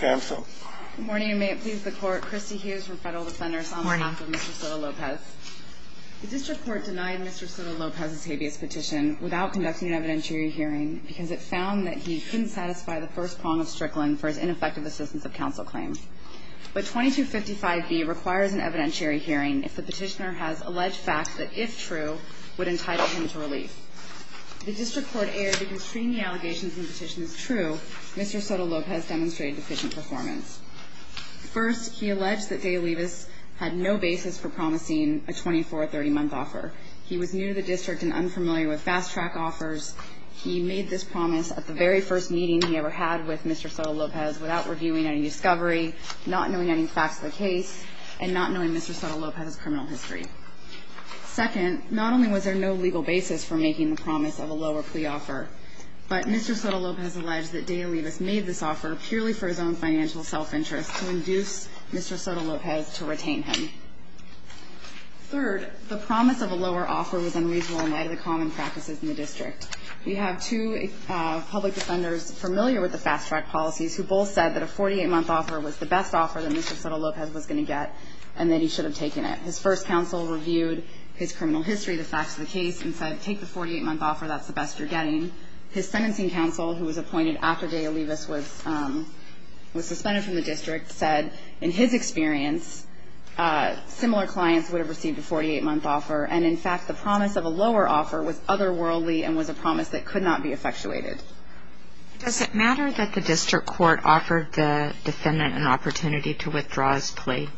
Good morning and may it please the court, Christy Hughes from Federal Defenders on behalf of Mr. Soto-Lopez. The district court denied Mr. Soto-Lopez's habeas petition without conducting an evidentiary hearing because it found that he couldn't satisfy the first prong of Strickland for his ineffective assistance of counsel claims. But 2255B requires an evidentiary hearing if the petitioner has alleged facts that, if true, would entitle him to relief. The district court erred because, seeing the allegations in the petition as true, Mr. Soto-Lopez demonstrated deficient performance. First, he alleged that De Olivas had no basis for promising a 24- or 30-month offer. He was new to the district and unfamiliar with fast-track offers. He made this promise at the very first meeting he ever had with Mr. Soto-Lopez without reviewing any discovery, not knowing any facts of the case, and not knowing Mr. Soto-Lopez's criminal history. Second, not only was there no legal basis for making the promise of a lower plea offer, but Mr. Soto-Lopez alleged that De Olivas made this offer purely for his own financial self-interest to induce Mr. Soto-Lopez to retain him. Third, the promise of a lower offer was unreasonable in light of the common practices in the district. We have two public defenders familiar with the fast-track policies who both said that a 48-month offer was the best offer that Mr. Soto-Lopez was going to get and that he should have taken it. His first counsel reviewed his criminal history, the facts of the case, and said, take the 48-month offer, that's the best you're getting. His sentencing counsel, who was appointed after De Olivas was suspended from the district, said, in his experience, similar clients would have received a 48-month offer, and, in fact, the promise of a lower offer was otherworldly and was a promise that could not be effectuated. Does it matter that the district court offered the defendant an opportunity to withdraw his plea?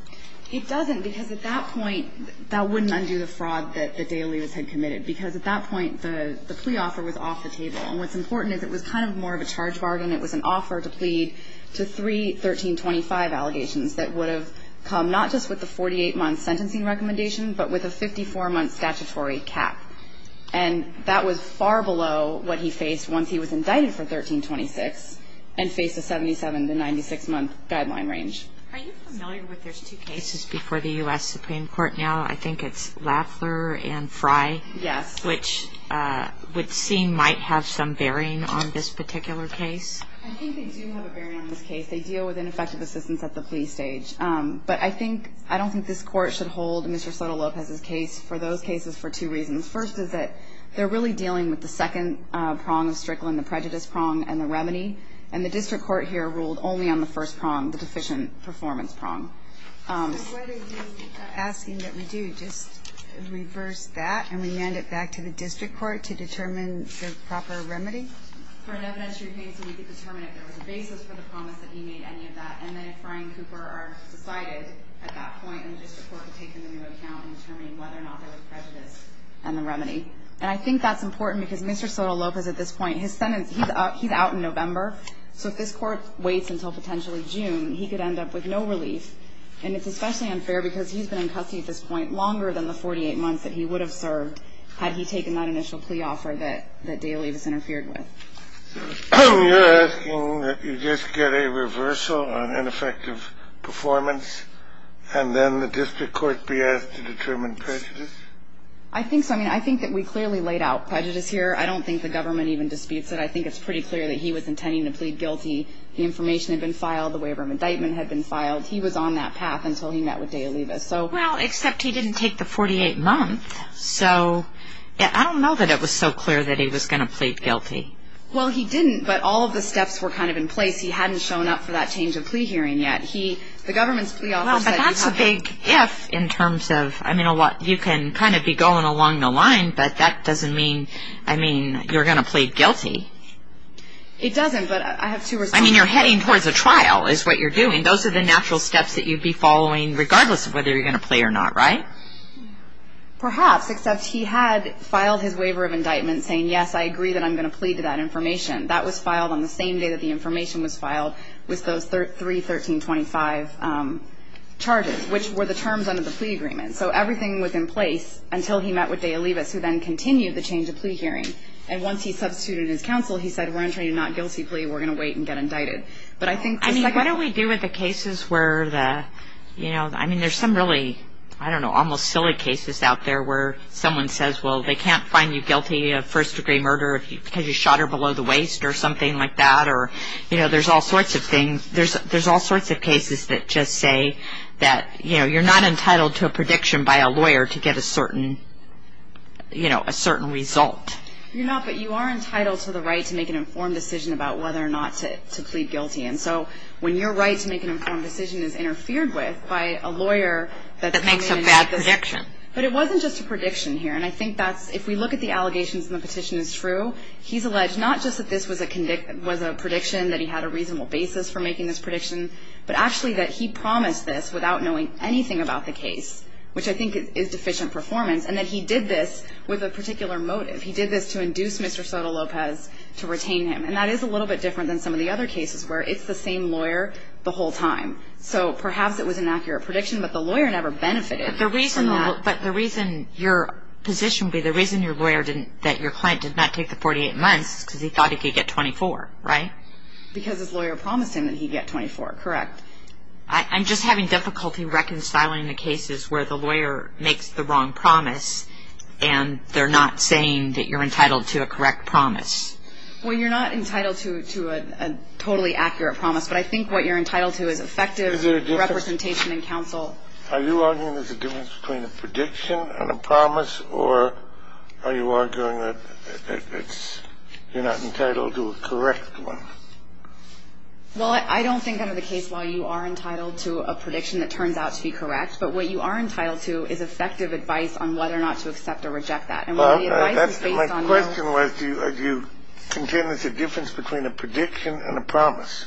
It doesn't, because at that point, that wouldn't undo the fraud that De Olivas had committed, because at that point, the plea offer was off the table. And what's important is it was kind of more of a charge bargain. It was an offer to plead to three 1325 allegations that would have come not just with the 48-month sentencing recommendation, but with a 54-month statutory cap. And that was far below what he faced once he was indicted for 1326 and faced a 77- to 96-month guideline range. Are you familiar with there's two cases before the U.S. Supreme Court now? I think it's Lafler and Frye. Yes. Which would seem might have some bearing on this particular case. I think they do have a bearing on this case. They deal with ineffective assistance at the plea stage. But I think this court should hold Mr. Soto-Lopez's case for those cases for two reasons. First is that they're really dealing with the second prong of Strickland, the prejudice prong, and the remedy. And the district court here ruled only on the first prong, the deficient performance prong. So what are you asking that we do? Just reverse that and remand it back to the district court to determine the proper remedy? For an evidentiary case, we need to determine if there was a basis for the promise that he made any of that. And then if Frye and Cooper are decided at that point, and the district court can take them into account in determining whether or not there was prejudice and the remedy. And I think that's important because Mr. Soto-Lopez at this point, his sentence, he's out in November. So if this court waits until potentially June, he could end up with no relief. And it's especially unfair because he's been in custody at this point longer than the 48 months that he would have served had he taken that initial plea offer that Daley was interfered with. So you're asking that you just get a reversal on ineffective performance, and then the district court be asked to determine prejudice? I think so. I mean, I think that we clearly laid out prejudice here. I don't think the government even disputes it. I think it's pretty clear that he was intending to plead guilty. The information had been filed. The waiver of indictment had been filed. He was on that path until he met with Daley. Well, except he didn't take the 48 months. So I don't know that it was so clear that he was going to plead guilty. Well, he didn't, but all of the steps were kind of in place. He hadn't shown up for that change of plea hearing yet. The government's plea offer said he had. Well, but that's a big if in terms of, I mean, you can kind of be going along the line, but that doesn't mean, I mean, you're going to plead guilty. It doesn't, but I have two responses. I mean, you're heading towards a trial is what you're doing. Those are the natural steps that you'd be following regardless of whether you're going to plead or not, right? Perhaps, except he had filed his waiver of indictment saying, yes, I agree that I'm going to plead to that information. That was filed on the same day that the information was filed with those three 1325 charges, which were the terms under the plea agreement. So everything was in place until he met with De Olivas, who then continued the change of plea hearing. And once he substituted his counsel, he said, we're entering a not guilty plea. We're going to wait and get indicted. But I think. I mean, what do we do with the cases where the, you know, I mean, there's some really, I don't know, almost silly cases out there where someone says, well, they can't find you guilty of first-degree murder because you shot her below the waist or something like that. Or, you know, there's all sorts of things. There's all sorts of cases that just say that, you know, you're not entitled to a prediction by a lawyer to get a certain, you know, a certain result. You're not, but you are entitled to the right to make an informed decision about whether or not to plead guilty. And so when your right to make an informed decision is interfered with by a lawyer. That makes a bad prediction. But it wasn't just a prediction here. And I think that's, if we look at the allegations and the petition is true, he's alleged not just that this was a prediction that he had a reasonable basis for making this prediction, but actually that he promised this without knowing anything about the case, which I think is deficient performance, and that he did this with a particular motive. He did this to induce Mr. Soto-Lopez to retain him. And that is a little bit different than some of the other cases where it's the same lawyer the whole time. So perhaps it was an accurate prediction, but the lawyer never benefited from that. But the reason your position would be the reason your lawyer didn't, that your client did not take the 48 months is because he thought he could get 24, right? Because his lawyer promised him that he'd get 24, correct. I'm just having difficulty reconciling the cases where the lawyer makes the wrong promise and they're not saying that you're entitled to a correct promise. Well, you're not entitled to a totally accurate promise, Well, are you arguing there's a difference between a prediction and a promise, or are you arguing that you're not entitled to a correct one? Well, I don't think under the case law you are entitled to a prediction that turns out to be correct, but what you are entitled to is effective advice on whether or not to accept or reject that. My question was, do you contend there's a difference between a prediction and a promise?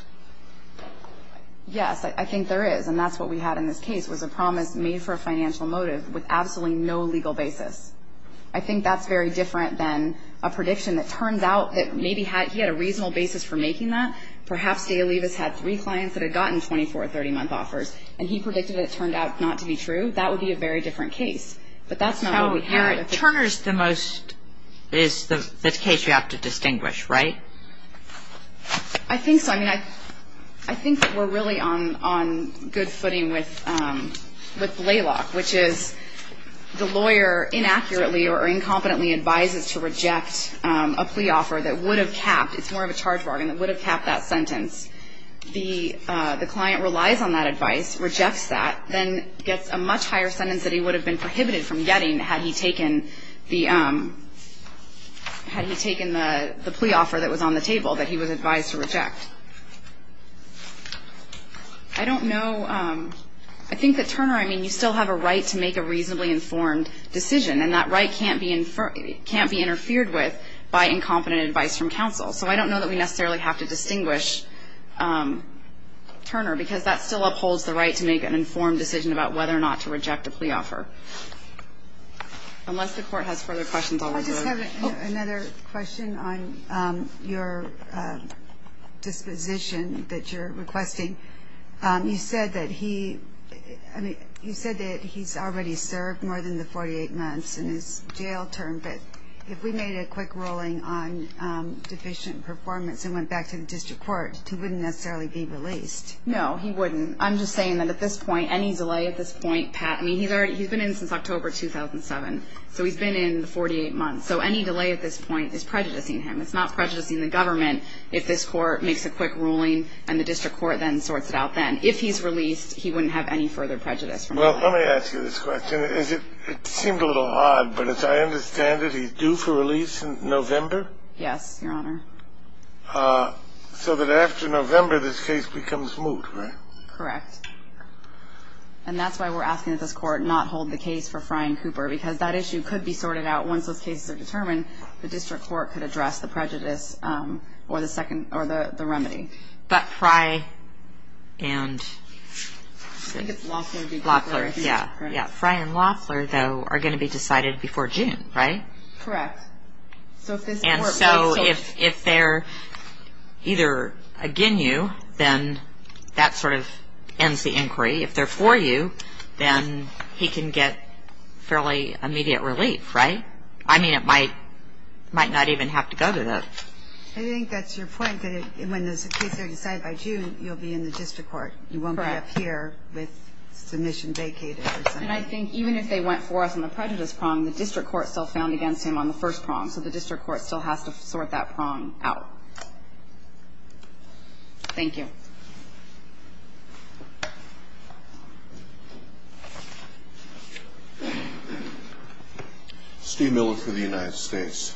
Yes, I think there is, and that's what we had in this case, was a promise made for a financial motive with absolutely no legal basis. I think that's very different than a prediction that turns out that maybe he had a reasonable basis for making that. Perhaps Dale Levis had three clients that had gotten 24, 30-month offers, and he predicted it turned out not to be true. That would be a very different case. But that's not what we heard. Turner's the most, is the case you have to distinguish, right? I think so. I mean, I think that we're really on good footing with Blalock, which is the lawyer inaccurately or incompetently advises to reject a plea offer that would have capped, it's more of a charge bargain, that would have capped that sentence. The client relies on that advice, rejects that, then gets a much higher sentence that he would have been prohibited from getting had he taken the plea offer that was on the table that he was advised to reject. I don't know. I think that Turner, I mean, you still have a right to make a reasonably informed decision, and that right can't be interfered with by incompetent advice from counsel. So I don't know that we necessarily have to distinguish Turner, because that still upholds the right to make an informed decision about whether or not to reject a plea offer. Unless the Court has further questions, I'll let her go. I just have another question on your disposition that you're requesting. You said that he, I mean, you said that he's already served more than the 48 months in his jail term, but if we made a quick ruling on deficient performance and went back to the district court, he wouldn't necessarily be released. No, he wouldn't. I'm just saying that at this point, any delay at this point, Pat, I mean, he's been in since October 2007, so he's been in the 48 months. So any delay at this point is prejudicing him. It's not prejudicing the government if this court makes a quick ruling and the district court then sorts it out then. If he's released, he wouldn't have any further prejudice. Well, let me ask you this question. It seemed a little odd, but as I understand it, he's due for release in November? Yes, Your Honor. So that after November this case becomes moot, right? Correct. And that's why we're asking that this court not hold the case for Fry and Cooper because that issue could be sorted out once those cases are determined. The district court could address the prejudice or the remedy. But Fry and Loeffler, yeah, Fry and Loeffler, though, are going to be decided before June, right? Correct. And so if they're either against you, then that sort of ends the inquiry. If they're for you, then he can get fairly immediate relief, right? I mean, it might not even have to go to that. I think that's your point, that when the case is decided by June, you'll be in the district court. You won't be up here with submission vacated. And I think even if they went for us on the prejudice prong, the district court still found against him on the first prong, so the district court still has to sort that prong out. Thank you. Steve Miller for the United States.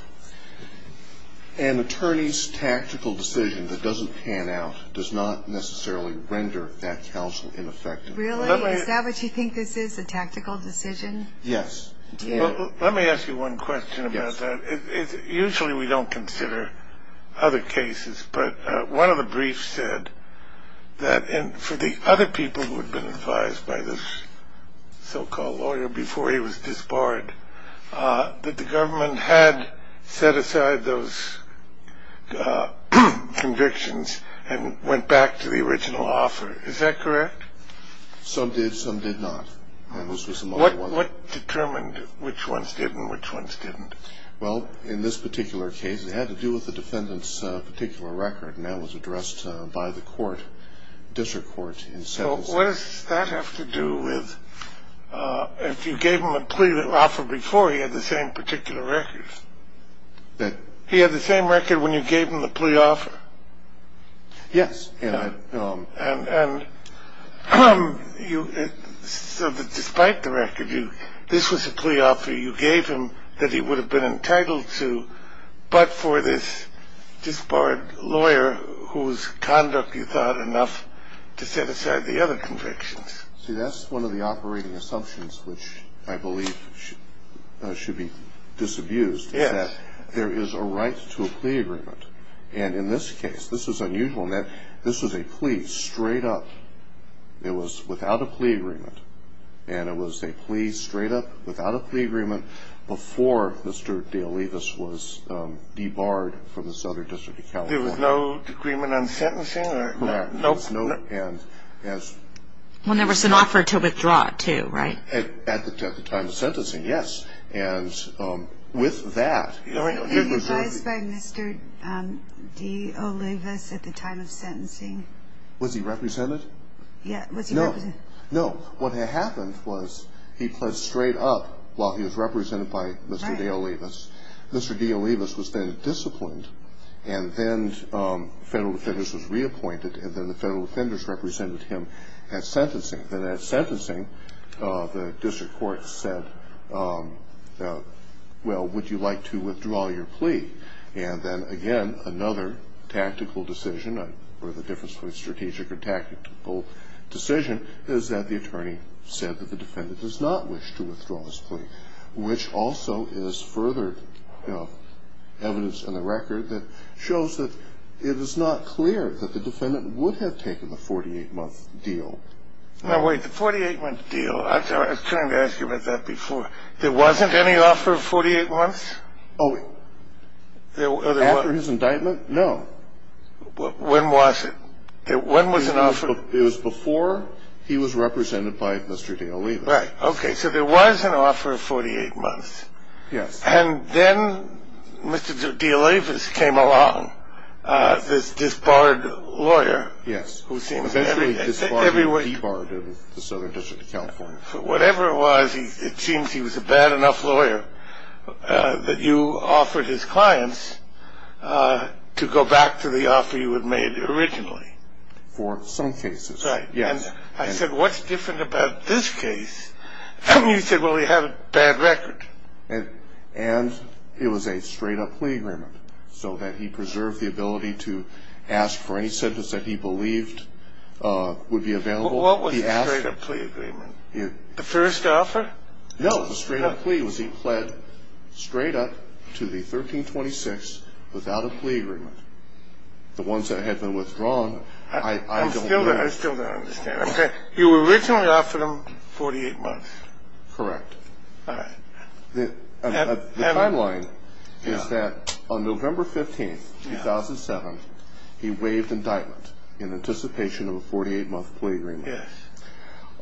An attorney's tactical decision that doesn't pan out does not necessarily render that counsel ineffective. Really? Is that what you think this is, a tactical decision? Yes. Let me ask you one question about that. Usually we don't consider other cases, but one of the briefs said that for the other people who had been advised by this so-called lawyer before he was disbarred, that the government had set aside those convictions and went back to the original offer. Is that correct? Some did, some did not. What determined which ones did and which ones didn't? Well, in this particular case, it had to do with the defendant's particular record, and that was addressed by the court, district court. So what does that have to do with if you gave him a plea offer before he had the same particular records? He had the same record when you gave him the plea offer? Yes. And despite the record, this was a plea offer you gave him that he would have been entitled to, but for this disbarred lawyer whose conduct you thought enough to set aside the other convictions. See, that's one of the operating assumptions which I believe should be disabused, is that there is a right to a plea agreement. And in this case, this was unusual in that this was a plea straight up. It was without a plea agreement, and it was a plea straight up without a plea agreement before Mr. DeOlivas was debarred from the Southern District of California. There was no agreement on sentencing? Correct. Well, there was an offer to withdraw it too, right? At the time of sentencing, yes. And with that, he was already- Was he advised by Mr. DeOlivas at the time of sentencing? Was he represented? No. No. What had happened was he pled straight up while he was represented by Mr. DeOlivas. Mr. DeOlivas was then disciplined, and then federal defenders was reappointed, and then the federal defenders represented him at sentencing. Then at sentencing, the district court said, well, would you like to withdraw your plea? And then, again, another tactical decision, or the difference between strategic and tactical decision, is that the attorney said that the defendant does not wish to withdraw his plea, which also is further evidence in the record that shows that it is not clear that the defendant would have taken the 48-month deal. Now, wait. The 48-month deal, I was trying to ask you about that before. There wasn't any offer of 48 months? Oh, after his indictment? No. When was it? When was an offer- It was before he was represented by Mr. DeOlivas. Right. Okay. So there was an offer of 48 months. Yes. And then Mr. DeOlivas came along, this disbarred lawyer- Yes. Eventually he disbarred the Southern District of California. Whatever it was, it seems he was a bad enough lawyer that you offered his clients to go back to the offer you had made originally. For some cases, yes. And I said, what's different about this case? And you said, well, he had a bad record. And it was a straight-up plea agreement, so that he preserved the ability to ask for any sentence that he believed would be available. What was the straight-up plea agreement? The first offer? No, the straight-up plea was he pled straight up to the 1326 without a plea agreement. The ones that had been withdrawn, I don't remember. I still don't understand. Okay. You originally offered him 48 months. Correct. All right. The timeline is that on November 15th, 2007, he waived indictment in anticipation of a 48-month plea agreement. Yes.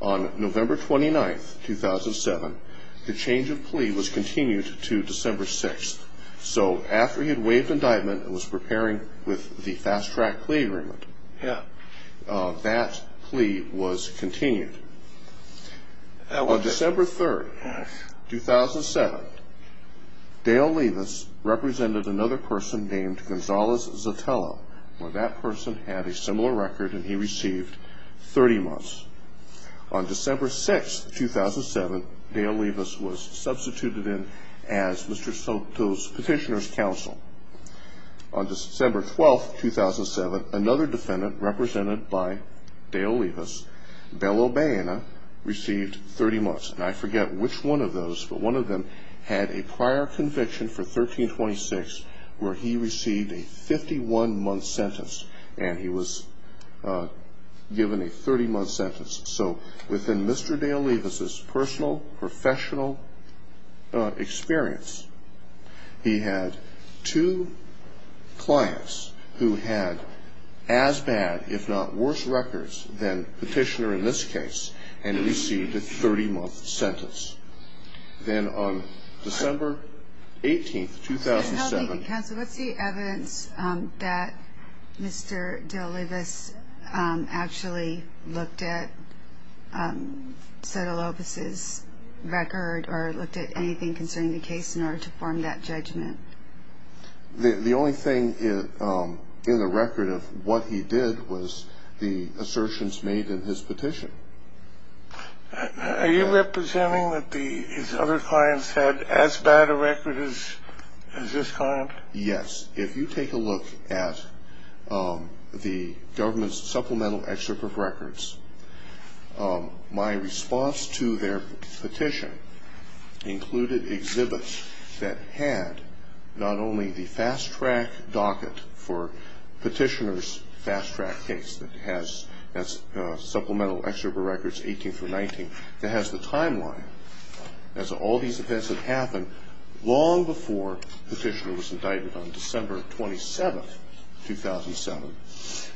On November 29th, 2007, the change of plea was continued to December 6th. So after he had waived indictment and was preparing with the fast-track plea agreement, that plea was continued. On December 3rd, 2007, Dale Levis represented another person named Gonzalez-Zatella, where that person had a similar record and he received 30 months. On December 6th, 2007, Dale Levis was substituted in as Mr. Soto's petitioner's counsel. On December 12th, 2007, another defendant represented by Dale Levis, Bello Baena, received 30 months. And I forget which one of those, but one of them had a prior conviction for 1326 where he received a 51-month sentence and he was given a 30-month sentence. So within Mr. Dale Levis's personal, professional experience, he had two clients who had as bad, if not worse, records than petitioner in this case and received a 30-month sentence. Then on December 18th, 2007 — Counsel, what's the evidence that Mr. Dale Levis actually looked at Soto Lopez's record or looked at anything concerning the case in order to form that judgment? The only thing in the record of what he did was the assertions made in his petition. Are you representing that his other clients had as bad a record as this client? Yes. If you take a look at the government's supplemental excerpt of records, my response to their petition included exhibits that had not only the fast-track docket for petitioner's fast-track case that has supplemental excerpt of records 18 through 19 that has the timeline as all these events had happened long before petitioner was indicted on December 27th, 2007,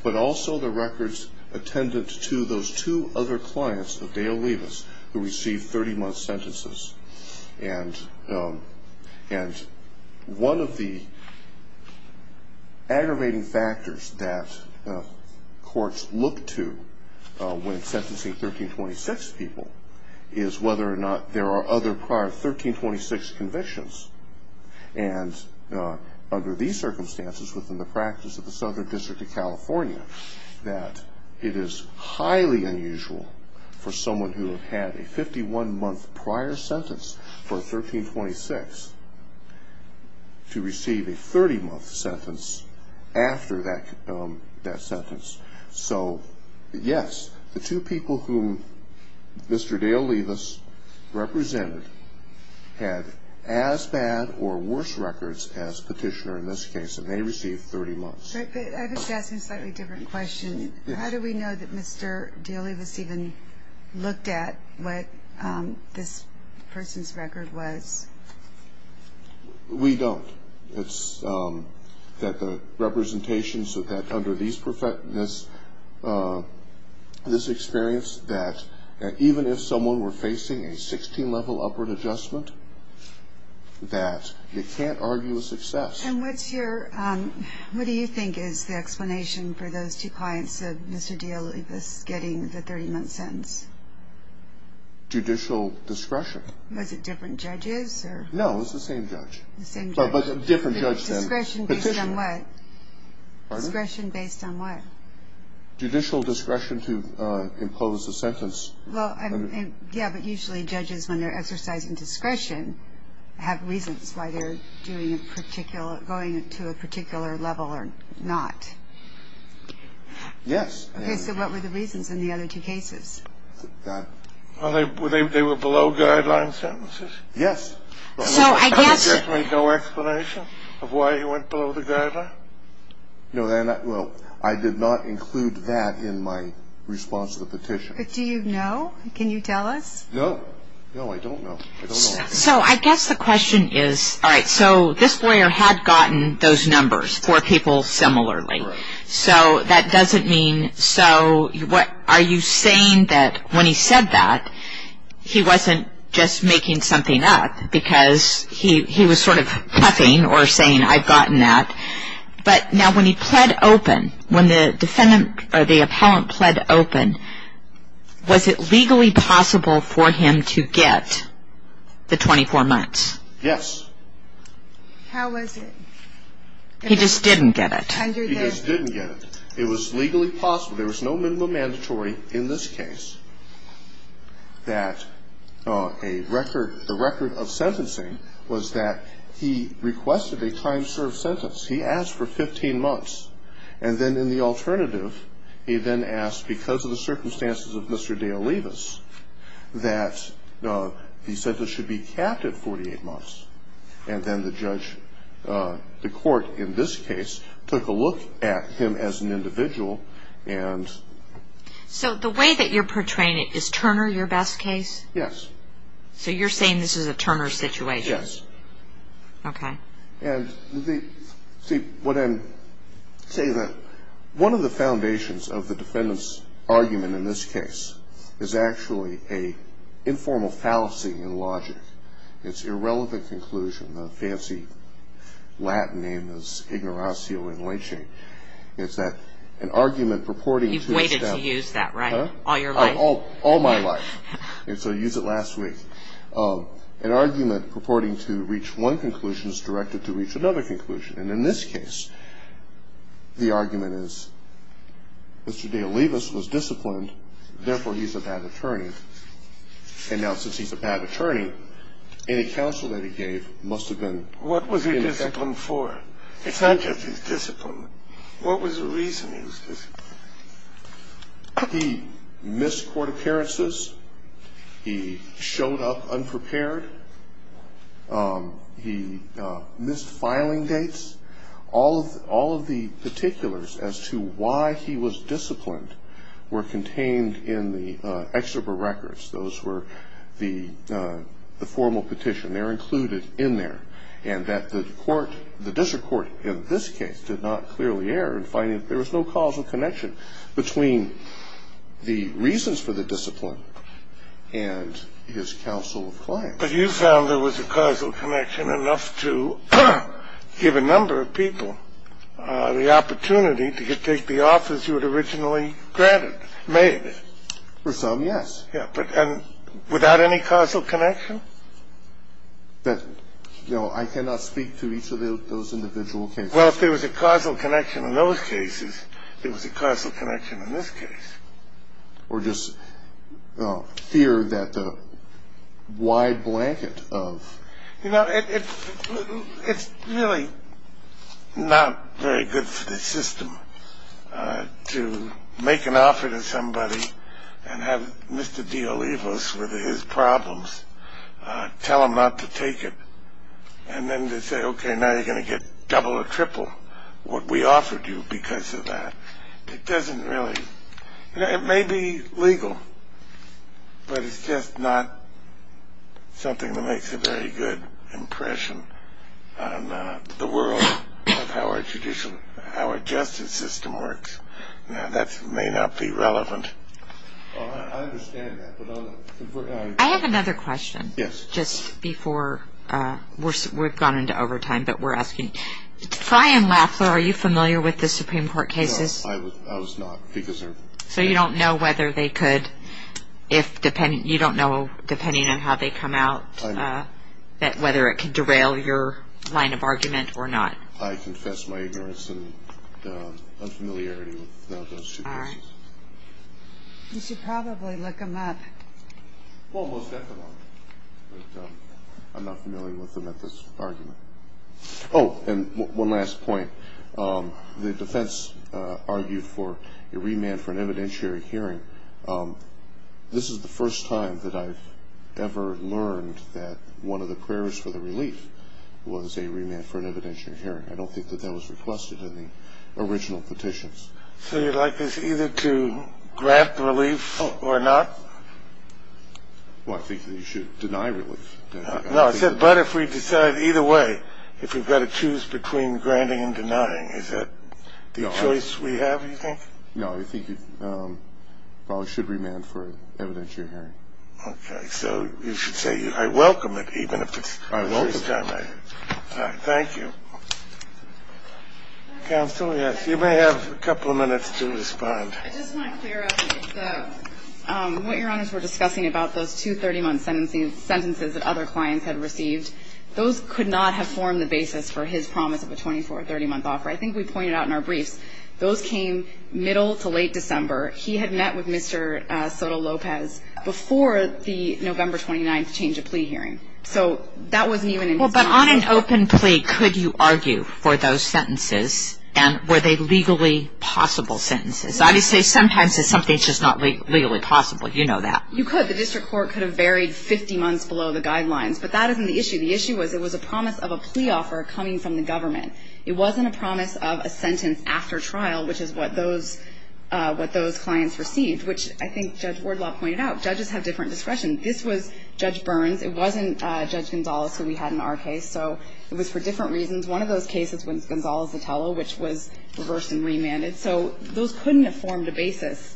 but also the records attendant to those two other clients of Dale Levis who received 30-month sentences. And one of the aggravating factors that courts look to when sentencing 1326 people is whether or not there are other prior 1326 convictions. And under these circumstances, within the practice of the Southern District of California, that it is highly unusual for someone who had a 51-month prior sentence for 1326 to receive a 30-month sentence after that sentence. So, yes, the two people whom Mr. Dale Levis represented had as bad or worse records as petitioner in this case, and they received 30 months. But I was asking a slightly different question. How do we know that Mr. Dale Levis even looked at what this person's record was? We don't. It's that the representation is that under this experience, that even if someone were facing a 16-level upward adjustment, that they can't argue a success. And what do you think is the explanation for those two clients of Mr. Dale Levis getting the 30-month sentence? Judicial discretion. Was it different judges? No, it was the same judge. The same judge. But a different judge then. Discretion based on what? Pardon? Discretion based on what? Judicial discretion to impose a sentence. Well, yeah, but usually judges, when they're exercising discretion, have reasons why they're going to a particular level or not. Yes. Okay, so what were the reasons in the other two cases? Well, they were below-guideline sentences. Yes. So I guess There's really no explanation of why he went below the guideline? No, I did not include that in my response to the petition. But do you know? Can you tell us? No. No, I don't know. I don't know. So I guess the question is, all right, so this lawyer had gotten those numbers for people similarly. So that doesn't mean, so are you saying that when he said that, he wasn't just making something up because he was sort of puffing or saying, I've gotten that. But now when he pled open, when the defendant or the appellant pled open, was it legally possible for him to get the 24 months? Yes. How was it? He just didn't get it. He just didn't get it. It was legally possible. So there was no minimum mandatory in this case that a record, the record of sentencing was that he requested a time-served sentence. He asked for 15 months. And then in the alternative, he then asked, because of the circumstances of Mr. Deolivas, that the sentence should be capped at 48 months. And then the judge, the court in this case, took a look at him as an individual and. So the way that you're portraying it, is Turner your best case? Yes. So you're saying this is a Turner situation? Yes. Okay. And see, what I'm saying is that one of the foundations of the defendant's argument in this case is actually an informal fallacy in logic. It's irrelevant conclusion. The fancy Latin name is ignoratio enliching. It's that an argument purporting to. You've waited to use that, right? Huh? All your life? All my life. And so I used it last week. An argument purporting to reach one conclusion is directed to reach another conclusion. And in this case, the argument is Mr. Deolivas was disciplined, therefore he's a bad attorney. And now since he's a bad attorney, any counsel that he gave must have been. What was he disciplined for? It's not just his discipline. What was the reason he was disciplined? He missed court appearances. He showed up unprepared. He missed filing dates. All of the particulars as to why he was disciplined were contained in the exerbo records. Those were the formal petition. They're included in there. And that the court, the district court in this case did not clearly err in finding that there was no causal connection between the reasons for the discipline and his counsel of claim. But you found there was a causal connection enough to give a number of people the opportunity to take the offers you had originally granted, made. For some, yes. Yeah, but without any causal connection? That, you know, I cannot speak to each of those individual cases. Well, if there was a causal connection in those cases, there was a causal connection in this case. Or just fear that the wide blanket of. You know, it's really not very good for the system to make an offer to somebody and have Mr. D. Olivos with his problems, tell him not to take it, and then to say, okay, now you're going to get double or triple what we offered you because of that. It doesn't really. You know, it may be legal, but it's just not something that makes a very good impression on the world of how our judicial, how our justice system works. Now, that may not be relevant. I understand that. I have another question. Yes. Just before we've gone into overtime, but we're asking. Fry and Laffler, are you familiar with the Supreme Court cases? No, I was not. So you don't know whether they could, you don't know, depending on how they come out, whether it could derail your line of argument or not? I confess my ignorance and unfamiliarity with those two cases. All right. You should probably look them up. Well, most definitely. But I'm not familiar with them at this argument. Oh, and one last point. The defense argued for a remand for an evidentiary hearing. This is the first time that I've ever learned that one of the prayers for the relief was a remand for an evidentiary hearing. I don't think that that was requested in the original petitions. So you'd like us either to grant the relief or not? Well, I think that you should deny relief. No, I said, but if we decide either way, if we've got to choose between granting and denying, is that the choice we have, you think? No, I think you probably should remand for evidentiary hearing. Okay. So you should say I welcome it, even if it's the first time. I welcome it. All right. Thank you. Counsel, yes. You may have a couple of minutes to respond. I just want to clear up what Your Honors were discussing about those two 30-month sentences that other clients had received. Those could not have formed the basis for his promise of a 24-, 30-month offer. I think we pointed out in our briefs, those came middle to late December. He had met with Mr. Soto-Lopez before the November 29th change of plea hearing. So that wasn't even in his mind. Well, but on an open plea, could you argue for those sentences? And were they legally possible sentences? I would say sometimes it's something that's just not legally possible. You know that. You could. The district court could have varied 50 months below the guidelines. But that isn't the issue. The issue was it was a promise of a plea offer coming from the government. It wasn't a promise of a sentence after trial, which is what those clients received, which I think Judge Wardlaw pointed out. Judges have different discretion. This was Judge Burns. It wasn't Judge Gonzales, who we had in our case. So it was for different reasons. One of those cases was Gonzales-Vitello, which was reversed and remanded. So those couldn't have formed a basis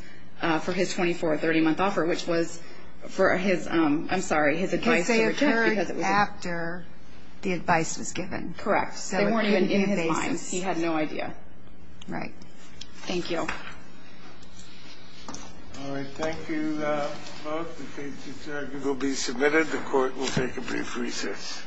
for his 24- or 30-month offer, which was for his ‑‑ I'm sorry, his advice. Because they occurred after the advice was given. Correct. So they weren't even in his mind. He had no idea. Right. Thank you. All right. Thank you both. The cases will be submitted. The court will take a brief recess.